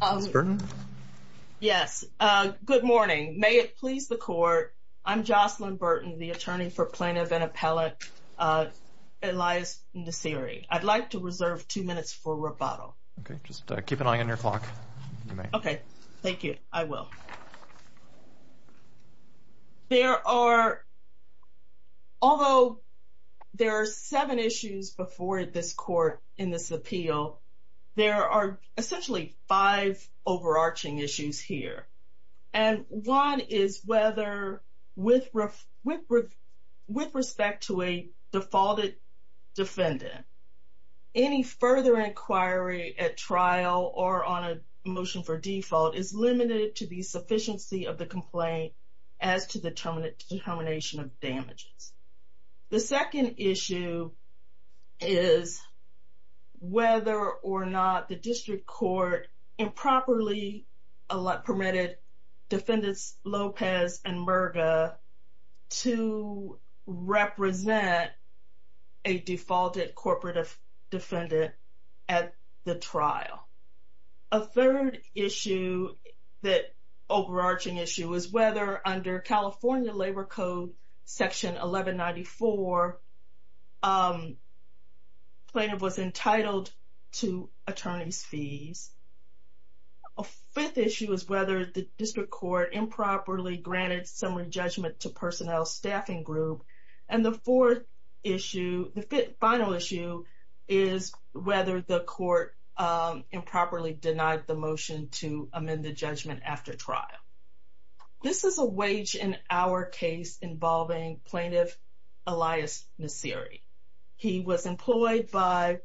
Yes, good morning. May it please the Court. I'm Jocelyn Burton, the Attorney for Plaintiff and Appellate Elias Nasiri. I'd like to reserve two minutes for rebuttal. Okay, just keep an eye on your clock. Okay, thank you. I will. There are, although there are seven issues before this Court in this appeal, there are essentially five overarching issues here. And one is whether, with respect to a defaulted defendant, any further inquiry at trial or on a motion for default is limited to the sufficiency of the complaint as to the determination of damages. The second issue is whether or not the district court improperly permitted Defendants Lopez and Murga to represent a defaulted corporate defendant at the trial. A third issue, that overarching issue, is whether under California Labor Code Section 1194, plaintiff was entitled to attorney's fees. A fifth issue is whether the district court improperly granted summary judgment to personnel staffing group. And the fourth issue, the final issue, is whether the court improperly denied the motion to amend the judgment after trial. This is a wage and hour case involving Plaintiff Elias Nasiri. He was employed by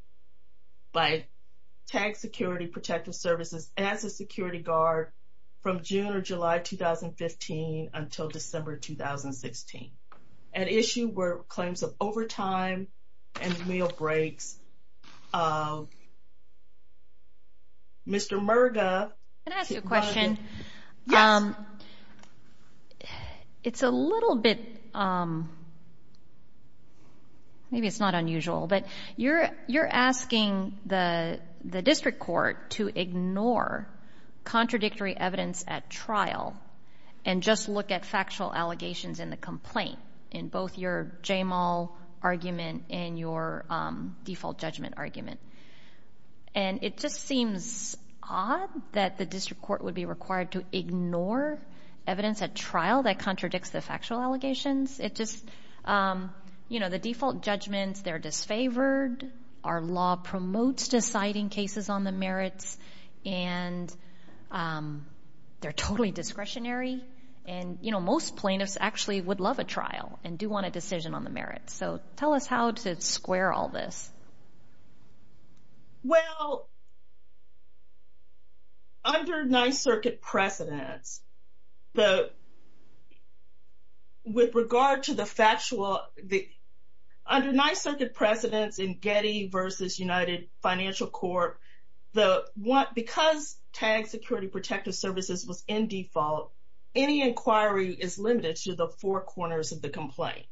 Tag Security Protective Services as a security guard from June or July 2015 until December 2016. An issue were claims of overtime and meal breaks. Mr. Murga. Can I ask you a question? Yes. It's a little bit, maybe it's not unusual, but you're asking the district court to ignore contradictory evidence at trial and just look at factual allegations in the complaint, in both your JMAL argument and your default judgment argument. And it just seems odd that the district court would be required to ignore evidence at trial that contradicts the factual allegations. It just, you know, the default judgments, they're disfavored, our law promotes deciding cases on the merits, and they're totally discretionary. And, you know, most plaintiffs actually would love a trial and do want a decision on the merits. So tell us how to square all this. Well, under Ninth Circuit precedence, with regard to the factual, under Ninth Circuit precedence in Getty versus United Financial Court, because TAG Security Protective Services was in default, any inquiry is limited to the four corners of the complaint.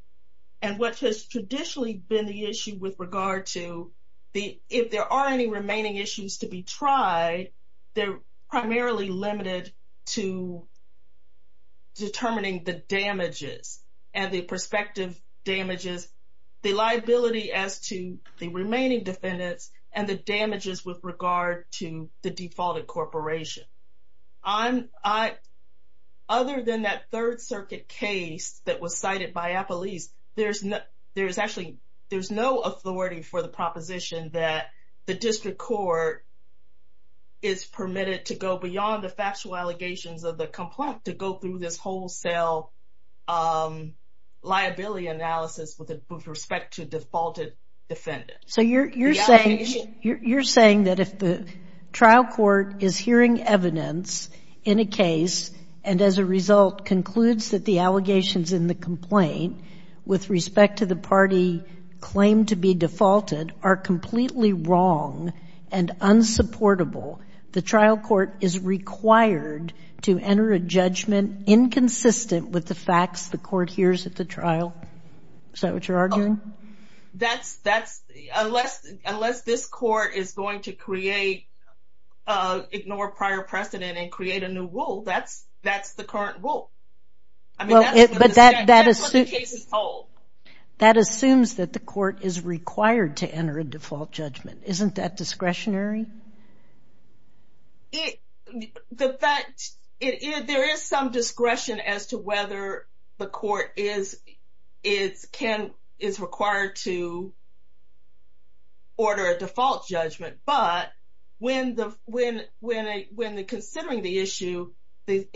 And what has traditionally been the issue with regard to the, if there are any remaining issues to be tried, they're primarily limited to determining the damages and the prospective damages, the liability as to the remaining defendants, and the damages with regard to the defaulted corporation. Other than that Third Circuit case that was cited by Appelese, there's no, there's actually, there's no authority for the proposition that the district court is permitted to go beyond the factual allegations of the complaint to go through this wholesale liability analysis with respect to defaulted defendants. So you're saying, you're saying that if the trial court is hearing evidence in a case, and as a result concludes that the allegations in the complaint with respect to the party claimed to be defaulted are completely wrong and unsupportable, the trial court is required to enter a judgment inconsistent with the facts the court hears at the trial? Is that what you're arguing? That's, that's, unless, unless this court is going to create, ignore prior precedent and create a new rule, that's, that's the current rule. I mean, that's what the case is told. That assumes that the court is required to enter a default judgment. Isn't that discretionary? The fact, there is some discretion as to whether the court is, is can, is required to order a default judgment. But when the, when, when, when the considering the issue, the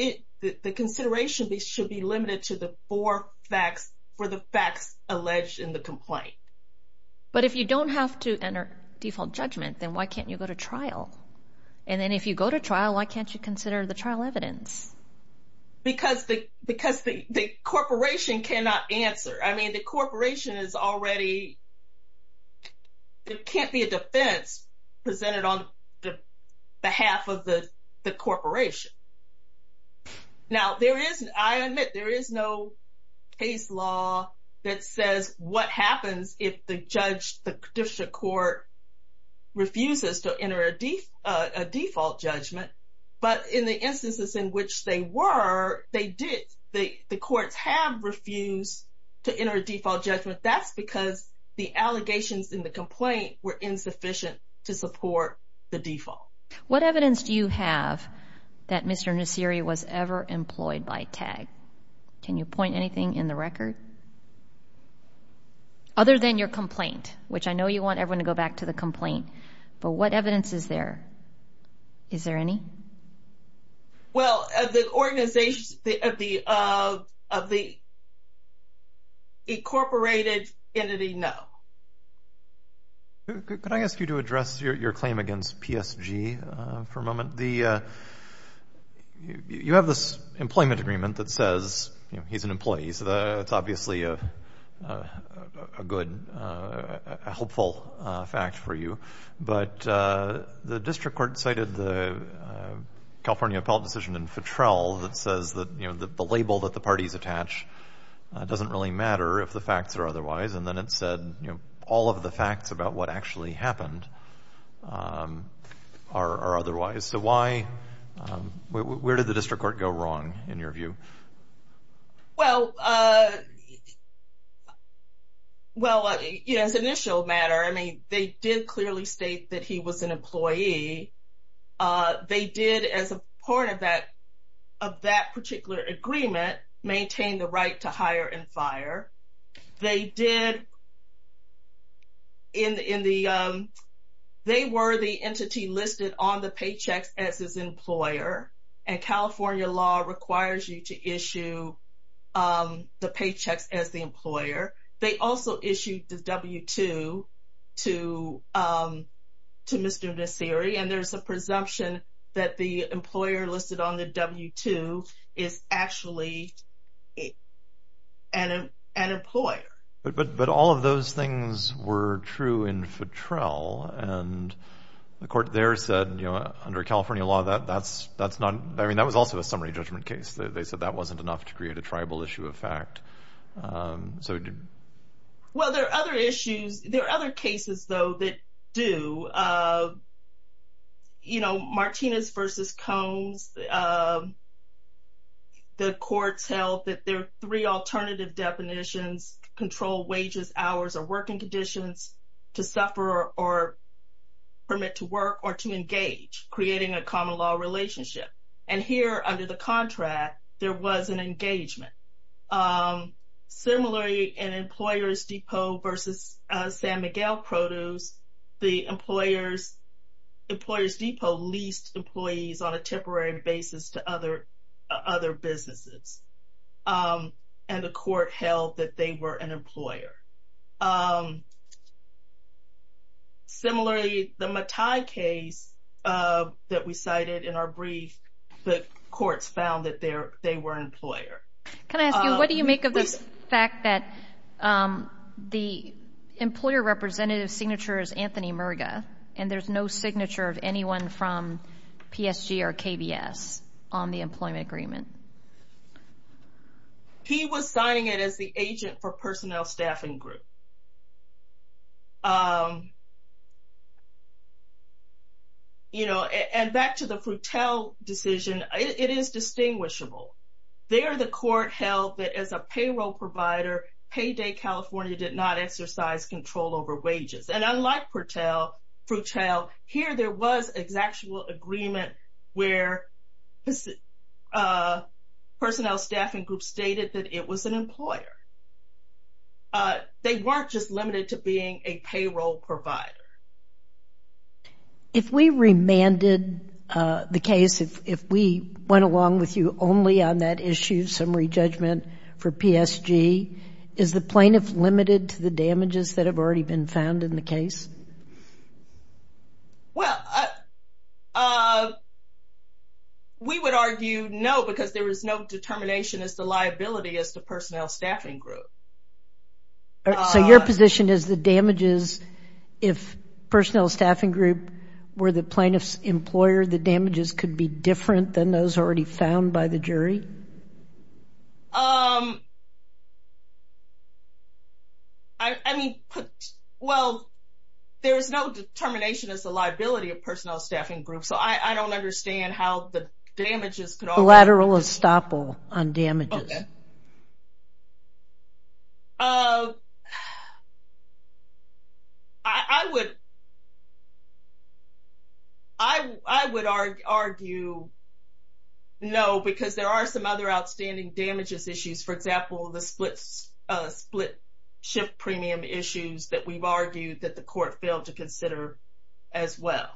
consideration should be limited to the four facts for the facts alleged in the complaint. But if you don't have to enter default judgment, then why can't you go to trial? And then if you go to trial, why can't you consider the trial evidence? Because the, because the corporation cannot answer. I mean, the corporation is already, it can't be a defense presented on behalf of the corporation. Now, there is, I admit, there is no case law that says what happens if the judge, the district court refuses to enter a default judgment. But in the instances in which they were, they did, the courts have refused to enter a default judgment. That's because the allegations in the complaint were insufficient to support the default. What evidence do you have that Mr. Nasiri was ever employed by TAG? Can you point anything in the record? Other than your complaint, which I know you want everyone to go back to the complaint, but what evidence is there? Is there any? Well, the organization, the, of the, of the incorporated entity, no. Could I ask you to address your claim against PSG for a moment? The, you have this employment agreement that says, you know, he's an employee. So that's obviously a good, a hopeful fact for you. But the district court cited the California appellate decision in Fitrell that says that, you know, the label that the parties attach doesn't really matter if the facts are otherwise. And then it said, you know, all of the facts about what actually happened are otherwise. So why, where did the district court go wrong in your view? Well, well, you know, as an initial matter, I mean, they did clearly state that he was an employee. They did, as a part of that, of that particular agreement, maintain the right to hire and fire. They did in the, they were the entity listed on the paychecks as his employer. And California law requires you to issue the paychecks as the employer. They also issued the W-2 to Mr. Nasseri. And there's a presumption that the employer listed on the W-2 is actually an employer. But all of those things were true in Fitrell. And the court there said, you know, under California law, that's not, I mean, that was also a summary judgment case. They said that wasn't enough to create a tribal issue of fact. So. Well, there are other issues, there are other cases, though, that do. You know, Martinez versus Combs. The courts held that there are three alternative definitions, control wages, hours or working conditions to suffer or permit to work or to engage, creating a common law relationship. And here under the contract, there was an engagement. Similarly, in Employers Depot versus San Miguel Produce, the employers, Employers Depot leased employees on a temporary basis to other businesses. And the court held that they were an employer. Similarly, the Matai case that we cited in our brief, the courts found that they were an employer. Can I ask you, what do you make of this fact that the employer representative signature is Anthony Murga and there's no signature of anyone from PSG or KBS on the employment agreement? He was signing it as the agent for personnel staffing group. You know, and back to the Frutel decision, it is distinguishable. There, the court held that as a payroll provider, Payday California did not exercise control over wages. And unlike Frutel, here there was an actual agreement where personnel staffing group stated that it was an employer. They weren't just limited to being a payroll provider. If we remanded the case, if we went along with you only on that issue, summary judgment for PSG, is the plaintiff limited to the damages that have already been found in the case? Well, we would argue no, because there was no determination as to liability as to personnel staffing group. So your position is the damages, if personnel staffing group were the plaintiff's employer, the damages could be different than those already found by the jury? I mean, well, there is no determination as the liability of personnel staffing group. So I don't understand how the damages could... Lateral estoppel on damages. I would argue no, because there are some other outstanding damages issues. For example, the split shift premium issues that we've argued that the court failed to consider as well.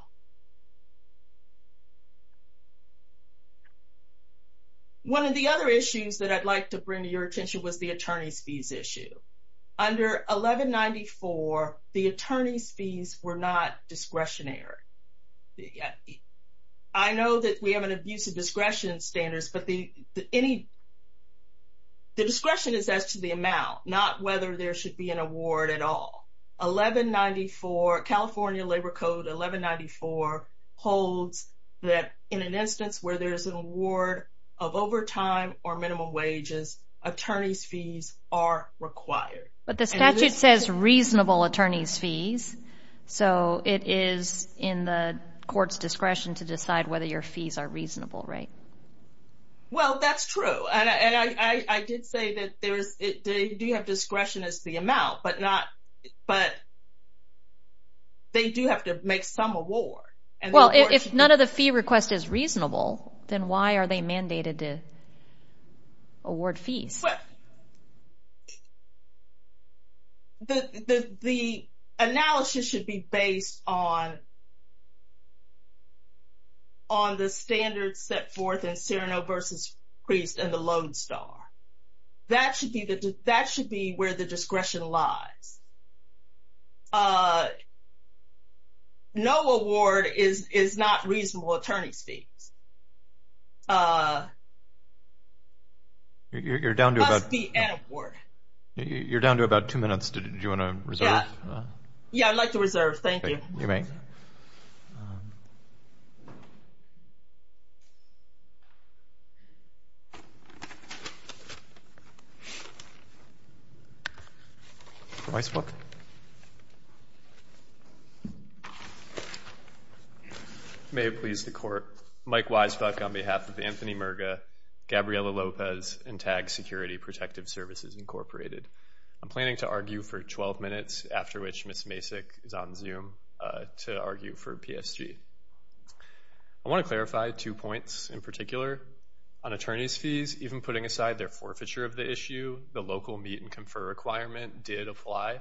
One of the other issues that I'd like to bring to your attention was the attorney's fees issue. Under 1194, the attorney's fees were not discretionary. I know that we have an abuse of discretion standards, but the discretion is as to the amount, not whether there should be an award at all. California Labor Code 1194 holds that in an instance where there's an award of overtime or minimum wages, attorney's fees are required. But the statute says reasonable attorney's fees, so it is in the court's discretion to decide whether your fees are reasonable, right? Well, that's true. And I did say that they do have discretion as the amount, but they do have to make some award. Well, if none of the fee request is reasonable, then why are they mandated to award fees? The analysis should be based on the standards set forth in Cyrano v. Priest and the Lone Star. That should be where the discretion lies. No award is not reasonable attorney's fees. You're down to about two minutes. Do you want to reserve? Yeah, I'd like to reserve. Thank you. You may. Weisbuck. May it please the Court, Mike Weisbuck on behalf of Anthony Merga, Gabriela Lopez, and TAG Security Protective Services, Incorporated. I'm planning to argue for 12 minutes, after which Ms. Masick is on Zoom to argue for PSG. I want to clarify two points in particular. On attorney's fees, even putting aside their forfeiture of the issue, the local meet and confer requirement did apply.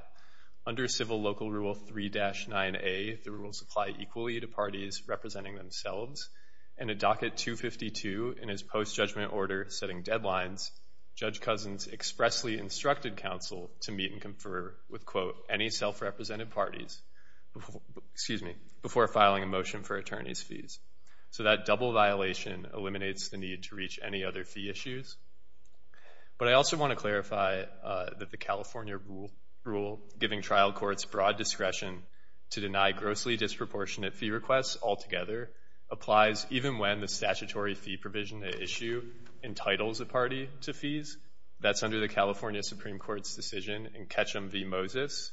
Under civil local rule 3-9A, the rules apply equally to parties representing themselves. In a docket 252 in his post-judgment order setting deadlines, Judge Cousins expressly instructed counsel to meet and confer with, quote, any self-represented parties before filing a motion for attorney's fees. So that double violation eliminates the need to reach any other fee issues. But I also want to clarify that the California rule, giving trial courts broad discretion to deny grossly disproportionate fee requests altogether, applies even when the statutory fee provision to issue entitles a party to fees. That's under the California Supreme Court's decision in Ketchum v. Moses.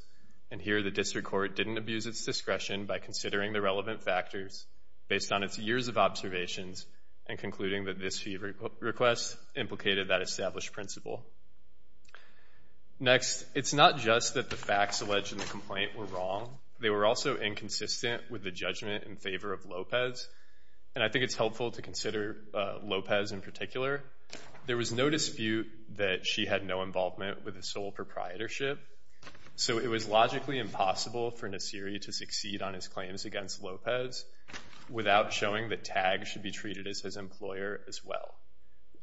And here the district court didn't abuse its discretion by considering the relevant factors based on its years of observations and concluding that this fee request implicated that established principle. Next, it's not just that the facts alleged in the complaint were wrong. They were also inconsistent with the judgment in favor of Lopez. And I think it's helpful to consider Lopez in particular. There was no dispute that she had no involvement with his sole proprietorship. So it was logically impossible for Nasiri to succeed on his claims against Lopez without showing that Tagg should be treated as his employer as well.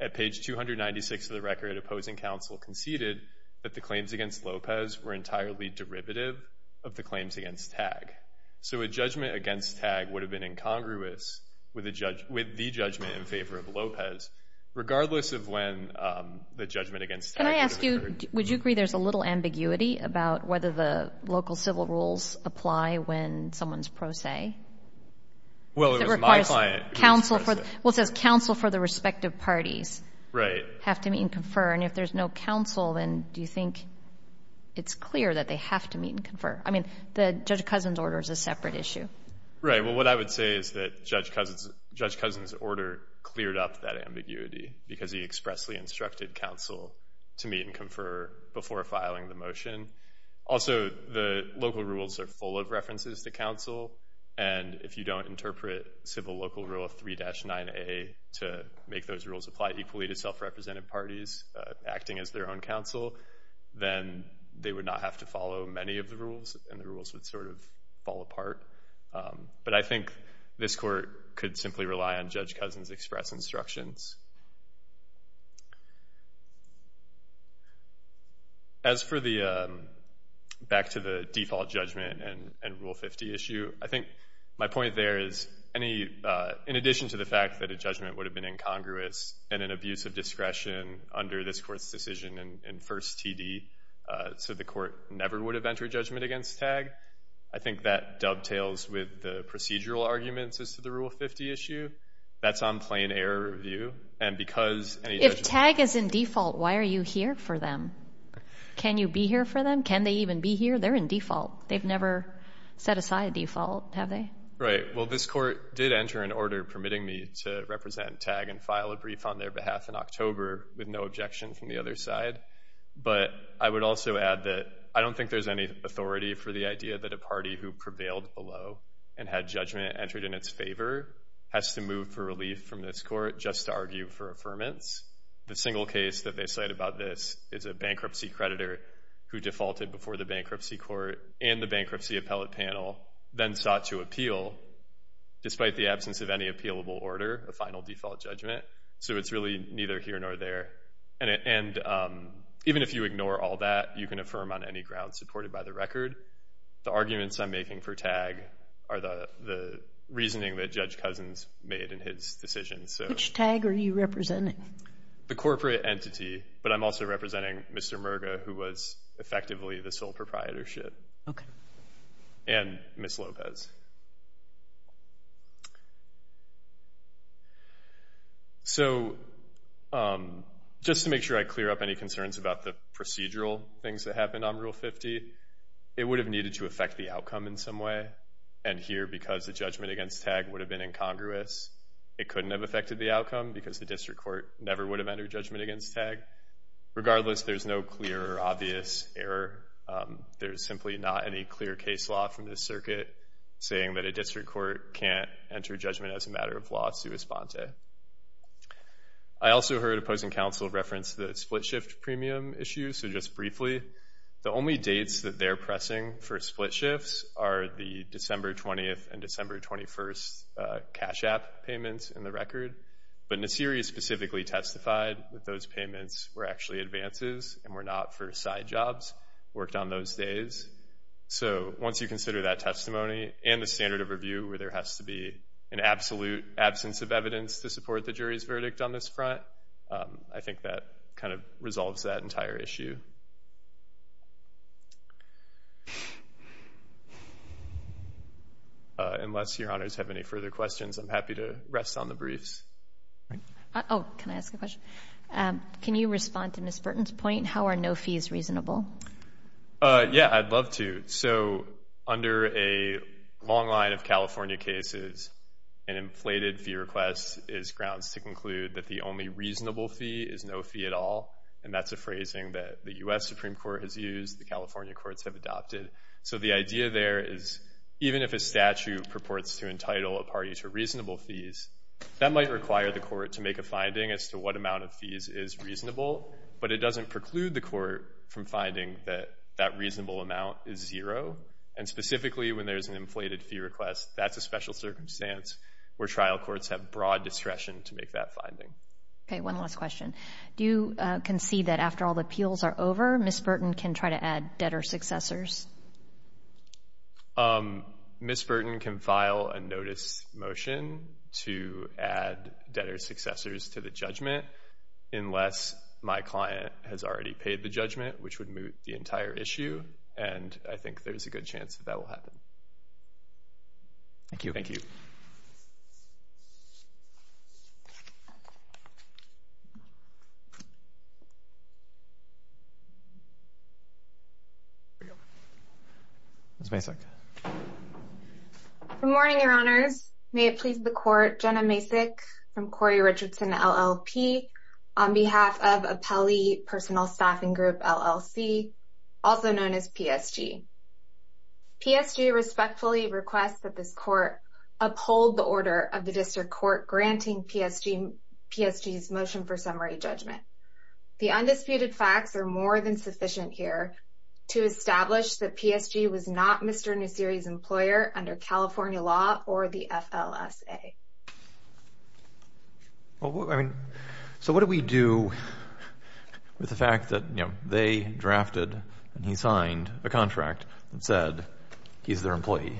At page 296 of the record, opposing counsel conceded that the claims against Lopez were entirely derivative of the claims against Tagg. So a judgment against Tagg would have been incongruous with the judgment in favor of Lopez, regardless of when the judgment against Tagg occurred. Can I ask you, would you agree there's a little ambiguity about whether the local civil rules apply when someone's pro se? Well, it was my client who expressed it. Well, it says counsel for the respective parties have to meet and confer. And if there's no counsel, then do you think it's clear that they have to meet and confer? I mean, Judge Cousin's order is a separate issue. Right, well, what I would say is that Judge Cousin's order cleared up that ambiguity because he expressly instructed counsel to meet and confer before filing the motion. Also, the local rules are full of references to counsel. And if you don't interpret civil local rule of 3-9A to make those rules apply equally to self-represented parties acting as their own counsel, then they would not have to follow many of the rules and the rules would sort of fall apart. But I think this court could simply rely on Judge Cousin's express instructions. As for the back-to-the-default judgment and Rule 50 issue, I think my point there is in addition to the fact that a judgment would have been incongruous and an abuse of discretion under this court's decision in First TD so the court never would have entered judgment against TAG, I think that dovetails with the procedural arguments as to the Rule 50 issue. That's on plain error review. And because any judgment... If TAG is in default, why are you here for them? Can you be here for them? Can they even be here? They're in default. They've never set aside default, have they? Right. Well, this court did enter an order permitting me to represent TAG and file a brief on their behalf in October with no objection from the other side. But I would also add that I don't think there's any authority for the idea that a party who prevailed below and had judgment entered in its favor has to move for relief from this court just to argue for affirmance. The single case that they cite about this is a bankruptcy creditor who defaulted before the bankruptcy court and the bankruptcy appellate panel, then sought to appeal despite the absence of any appealable order, a final default judgment. So it's really neither here nor there. And even if you ignore all that, you can affirm on any ground supported by the record. The arguments I'm making for TAG are the reasoning that Judge Cousins made in his decision. Which TAG are you representing? The corporate entity, but I'm also representing Mr. Merga, who was effectively the sole proprietorship. Okay. And Ms. Lopez. Ms. Lopez. So just to make sure I clear up any concerns about the procedural things that happened on Rule 50, it would have needed to affect the outcome in some way. And here, because the judgment against TAG would have been incongruous, it couldn't have affected the outcome because the district court never would have entered judgment against TAG. Regardless, there's no clear or obvious error. There's simply not any clear case law from this circuit saying that a district court can't enter judgment as a matter of law sua sponte. I also heard opposing counsel reference the split shift premium issue. So just briefly, the only dates that they're pressing for split shifts are the December 20th and December 21st cash app payments in the record. But Nasiri specifically testified that those payments were actually advances and were not for side jobs, worked on those days. So once you consider that testimony and the standard of review where there has to be an absolute absence of evidence to support the jury's verdict on this front, I think that kind of resolves that entire issue. Thank you. Unless your honors have any further questions, I'm happy to rest on the briefs. Oh, can I ask a question? Can you respond to Ms. Burton's point, how are no fees reasonable? Yeah, I'd love to. So under a long line of California cases, an inflated fee request is grounds to conclude that the only reasonable fee is no fee at all. And that's a phrasing that the U.S. Supreme Court has used, the California courts have adopted. So the idea there is even if a statute purports to entitle a party to reasonable fees, that might require the court to make a finding as to what amount of fees is reasonable. But it doesn't preclude the court from finding that that reasonable amount is zero. And specifically when there's an inflated fee request, that's a special circumstance where trial courts have broad discretion to make that finding. Okay, one last question. Do you concede that after all the appeals are over, Ms. Burton can try to add debtor successors? Ms. Burton can file a notice motion to add debtor successors to the judgment, unless my client has already paid the judgment, which would moot the entire issue. And I think there's a good chance that that will happen. Thank you. Thank you. Ms. Masick. Good morning, Your Honors. May it please the Court, Jenna Masick from Corey Richardson, LLP, on behalf of Appellee Personal Staffing Group, LLC, also known as PSG. PSG respectfully requests that this court uphold the order of the district court granting PSG's motion for summary judgment. The undisputed facts are more than sufficient here to establish that PSG was not Mr. Nusseri's employer under California law or the FLSA. So what do we do with the fact that they drafted and he signed a contract that said he's their employee?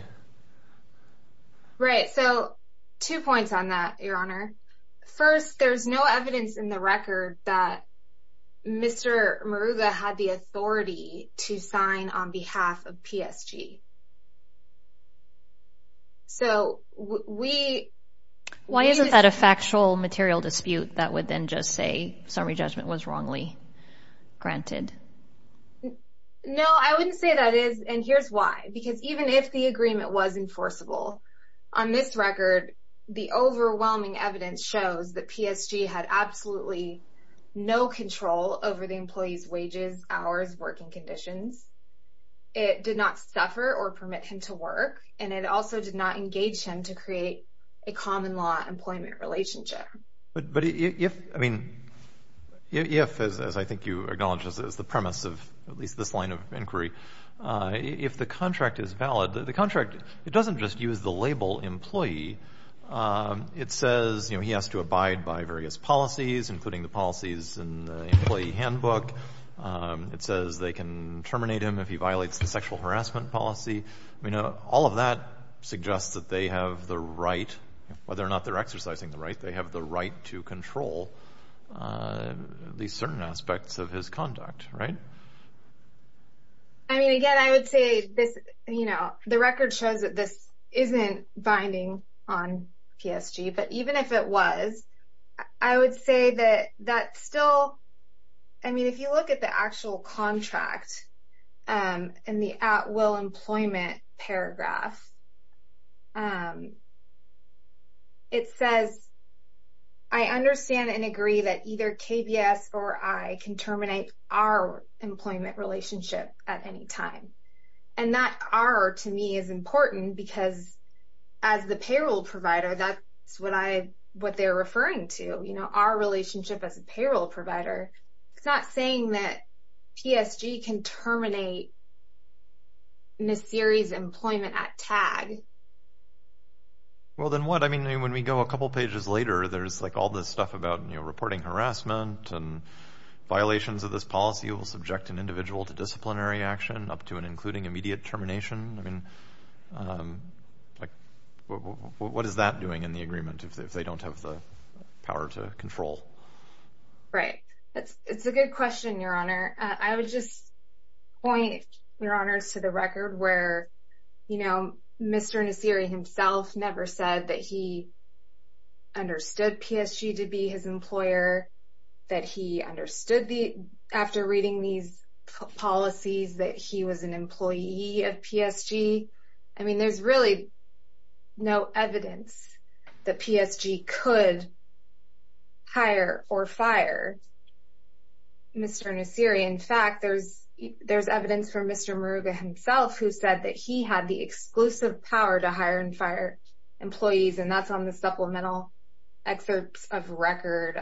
Right, so two points on that, Your Honor. First, there's no evidence in the record that Mr. Maruga had the authority to sign on behalf of PSG. So we… Why isn't that a factual material dispute that would then just say summary judgment was wrongly granted? No, I wouldn't say that is, and here's why. Because even if the agreement was enforceable, on this record, the overwhelming evidence shows that PSG had absolutely no control over the employee's wages, hours, working conditions. It did not suffer or permit him to work, and it also did not engage him to create a common-law employment relationship. But if, I mean, if, as I think you acknowledge as the premise of at least this line of inquiry, if the contract is valid, the contract, it doesn't just use the label employee. It says, you know, he has to abide by various policies, including the policies in the employee handbook. It says they can terminate him if he violates the sexual harassment policy. You know, all of that suggests that they have the right, whether or not they're exercising the right, they have the right to control these certain aspects of his conduct, right? I mean, again, I would say this, you know, the record shows that this isn't binding on PSG. But even if it was, I would say that that's still, I mean, if you look at the actual contract, in the at-will employment paragraph, it says, I understand and agree that either KBS or I can terminate our employment relationship at any time. And that our, to me, is important because as the payroll provider, that's what I, what they're referring to, you know, our relationship as a payroll provider. It's not saying that PSG can terminate in a series employment at tag. Well, then what? I mean, when we go a couple pages later, there's like all this stuff about, you know, reporting harassment and violations of this policy will subject an individual to disciplinary action up to and including immediate termination. I mean, like, what is that doing in the agreement if they don't have the power to control? Right. It's a good question, Your Honor. I would just point, Your Honors, to the record where, you know, Mr. Nasiri himself never said that he understood PSG to be his employer, that he understood after reading these policies that he was an employee of PSG. I mean, there's really no evidence that PSG could hire or fire Mr. Nasiri. In fact, there's evidence from Mr. Maruga himself who said that he had the exclusive power to hire and fire employees, and that's on the supplemental excerpts of record,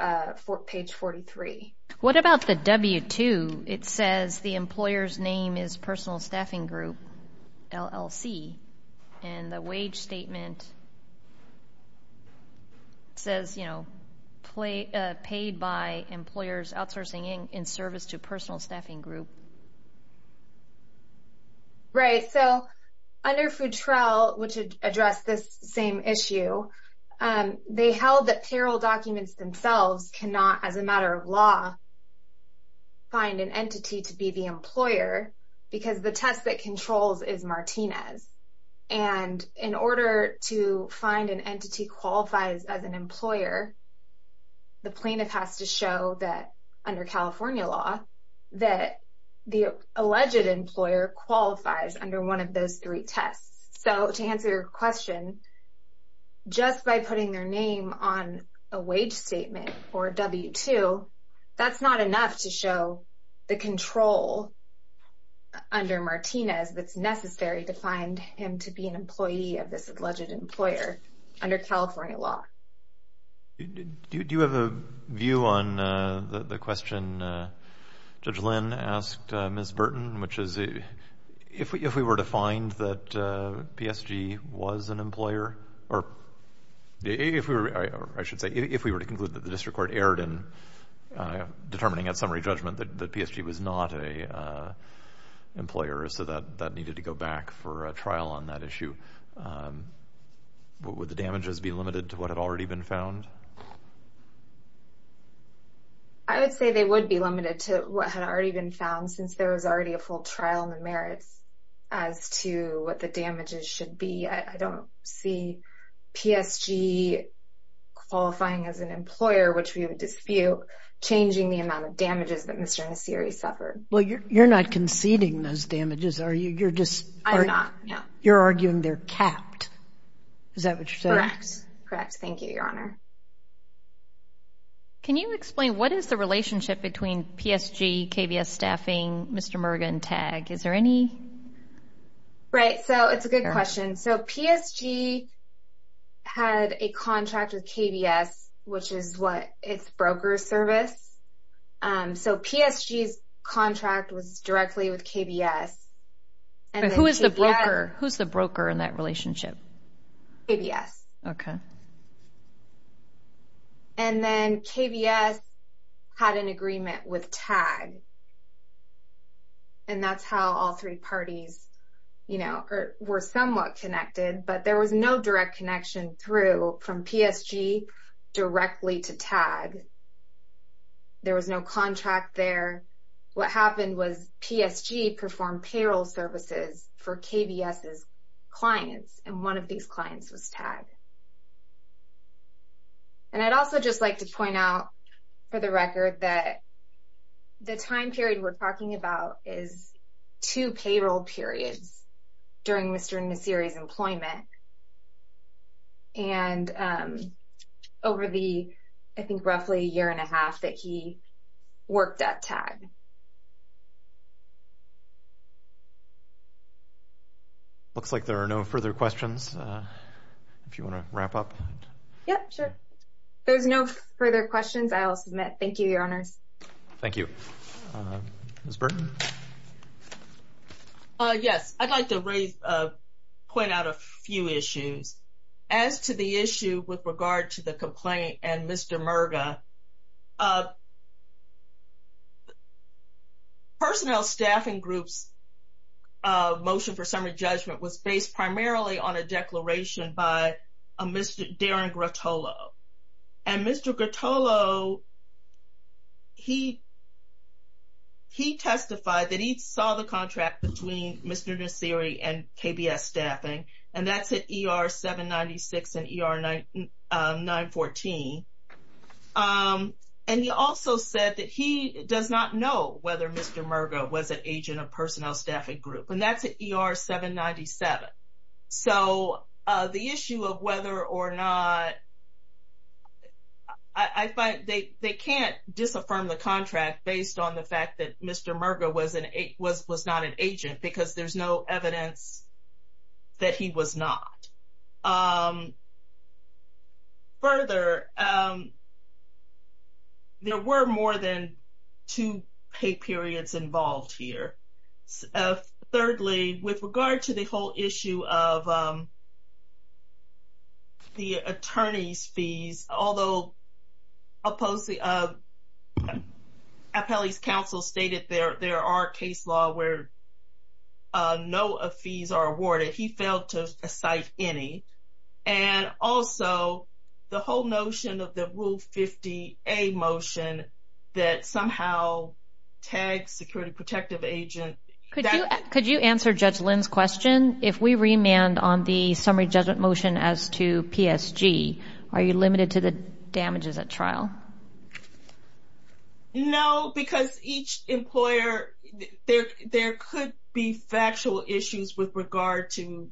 page 43. What about the W-2? It says the employer's name is Personal Staffing Group, LLC, and the wage statement says, you know, paid by employers outsourcing in service to Personal Staffing Group. Right. So under Futrell, which addressed this same issue, they held that payroll documents themselves cannot, as a matter of law, find an entity to be the employer because the test that controls is Martinez. And in order to find an entity qualifies as an employer, the plaintiff has to show that, under California law, that the alleged employer qualifies under one of those three tests. So to answer your question, just by putting their name on a wage statement or a W-2, that's not enough to show the control under Martinez that's necessary to find him to be an employee of this alleged employer under California law. Do you have a view on the question Judge Lynn asked Ms. Burton, which is, if we were to find that PSG was an employer, or if we were, I should say, if we were to conclude that the district court erred in determining at summary judgment that PSG was not an employer, so that needed to go back for a trial on that issue, would the damages be limited to what had already been found? I would say they would be limited to what had already been found, since there was already a full trial in the merits as to what the damages should be. I don't see PSG qualifying as an employer, which we would dispute, changing the amount of damages that Mr. Nassiri suffered. Well, you're not conceding those damages, are you? I'm not, no. You're arguing they're capped. Is that what you're saying? Correct, correct. Thank you, Your Honor. Can you explain what is the relationship between PSG, KBS staffing, Mr. Murga, and TAG? Is there any? Right, so it's a good question. So PSG had a contract with KBS, which is what its broker service. So PSG's contract was directly with KBS. Who is the broker in that relationship? KBS. Okay. And then KBS had an agreement with TAG, and that's how all three parties were somewhat connected, but there was no direct connection through from PSG directly to TAG. There was no contract there. What happened was PSG performed payroll services for KBS's clients, and one of these clients was TAG. And I'd also just like to point out, for the record, that the time period we're talking about is two payroll periods during Mr. Nassiri's employment, and over the, I think, roughly a year and a half that he worked at TAG. Looks like there are no further questions. If you want to wrap up. Yep, sure. If there's no further questions, I'll submit. Thank you, Your Honors. Thank you. Ms. Burton? Yes. I'd like to point out a few issues. As to the issue with regard to the complaint and Mr. Murga, personnel staffing group's motion for summary judgment was based primarily on a declaration by Mr. Darren Grottolo, and Mr. Grottolo, he testified that he saw the contract between Mr. Nassiri and KBS staffing, and that's at ER 796 and ER 914. And he also said that he does not know whether Mr. Murga was an agent of personnel staffing group, and that's at ER 797. So, the issue of whether or not, I find they can't disaffirm the contract based on the fact that Mr. Murga was not an agent because there's no evidence that he was not. Further, there were more than two pay periods involved here. Thirdly, with regard to the whole issue of the attorney's fees, although Appelli's counsel stated there are case law where no fees are awarded, he failed to cite any. And also, the whole notion of the Rule 50A motion that somehow tags security protective agent. Could you answer Judge Lynn's question? If we remand on the summary judgment motion as to PSG, are you limited to the damages at trial? No, because each employer, there could be factual issues with regard to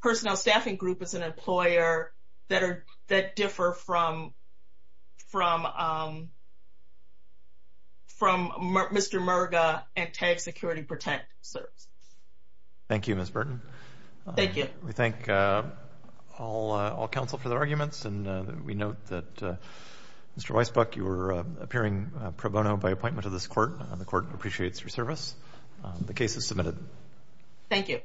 personnel staffing group as an employer that differ from Mr. Murga and tag security protective services. Thank you, Ms. Burton. Thank you. We thank all counsel for their arguments, and we note that Mr. Weisbuck, you were appearing pro bono by appointment to this court. The court appreciates your service. The case is submitted. Thank you.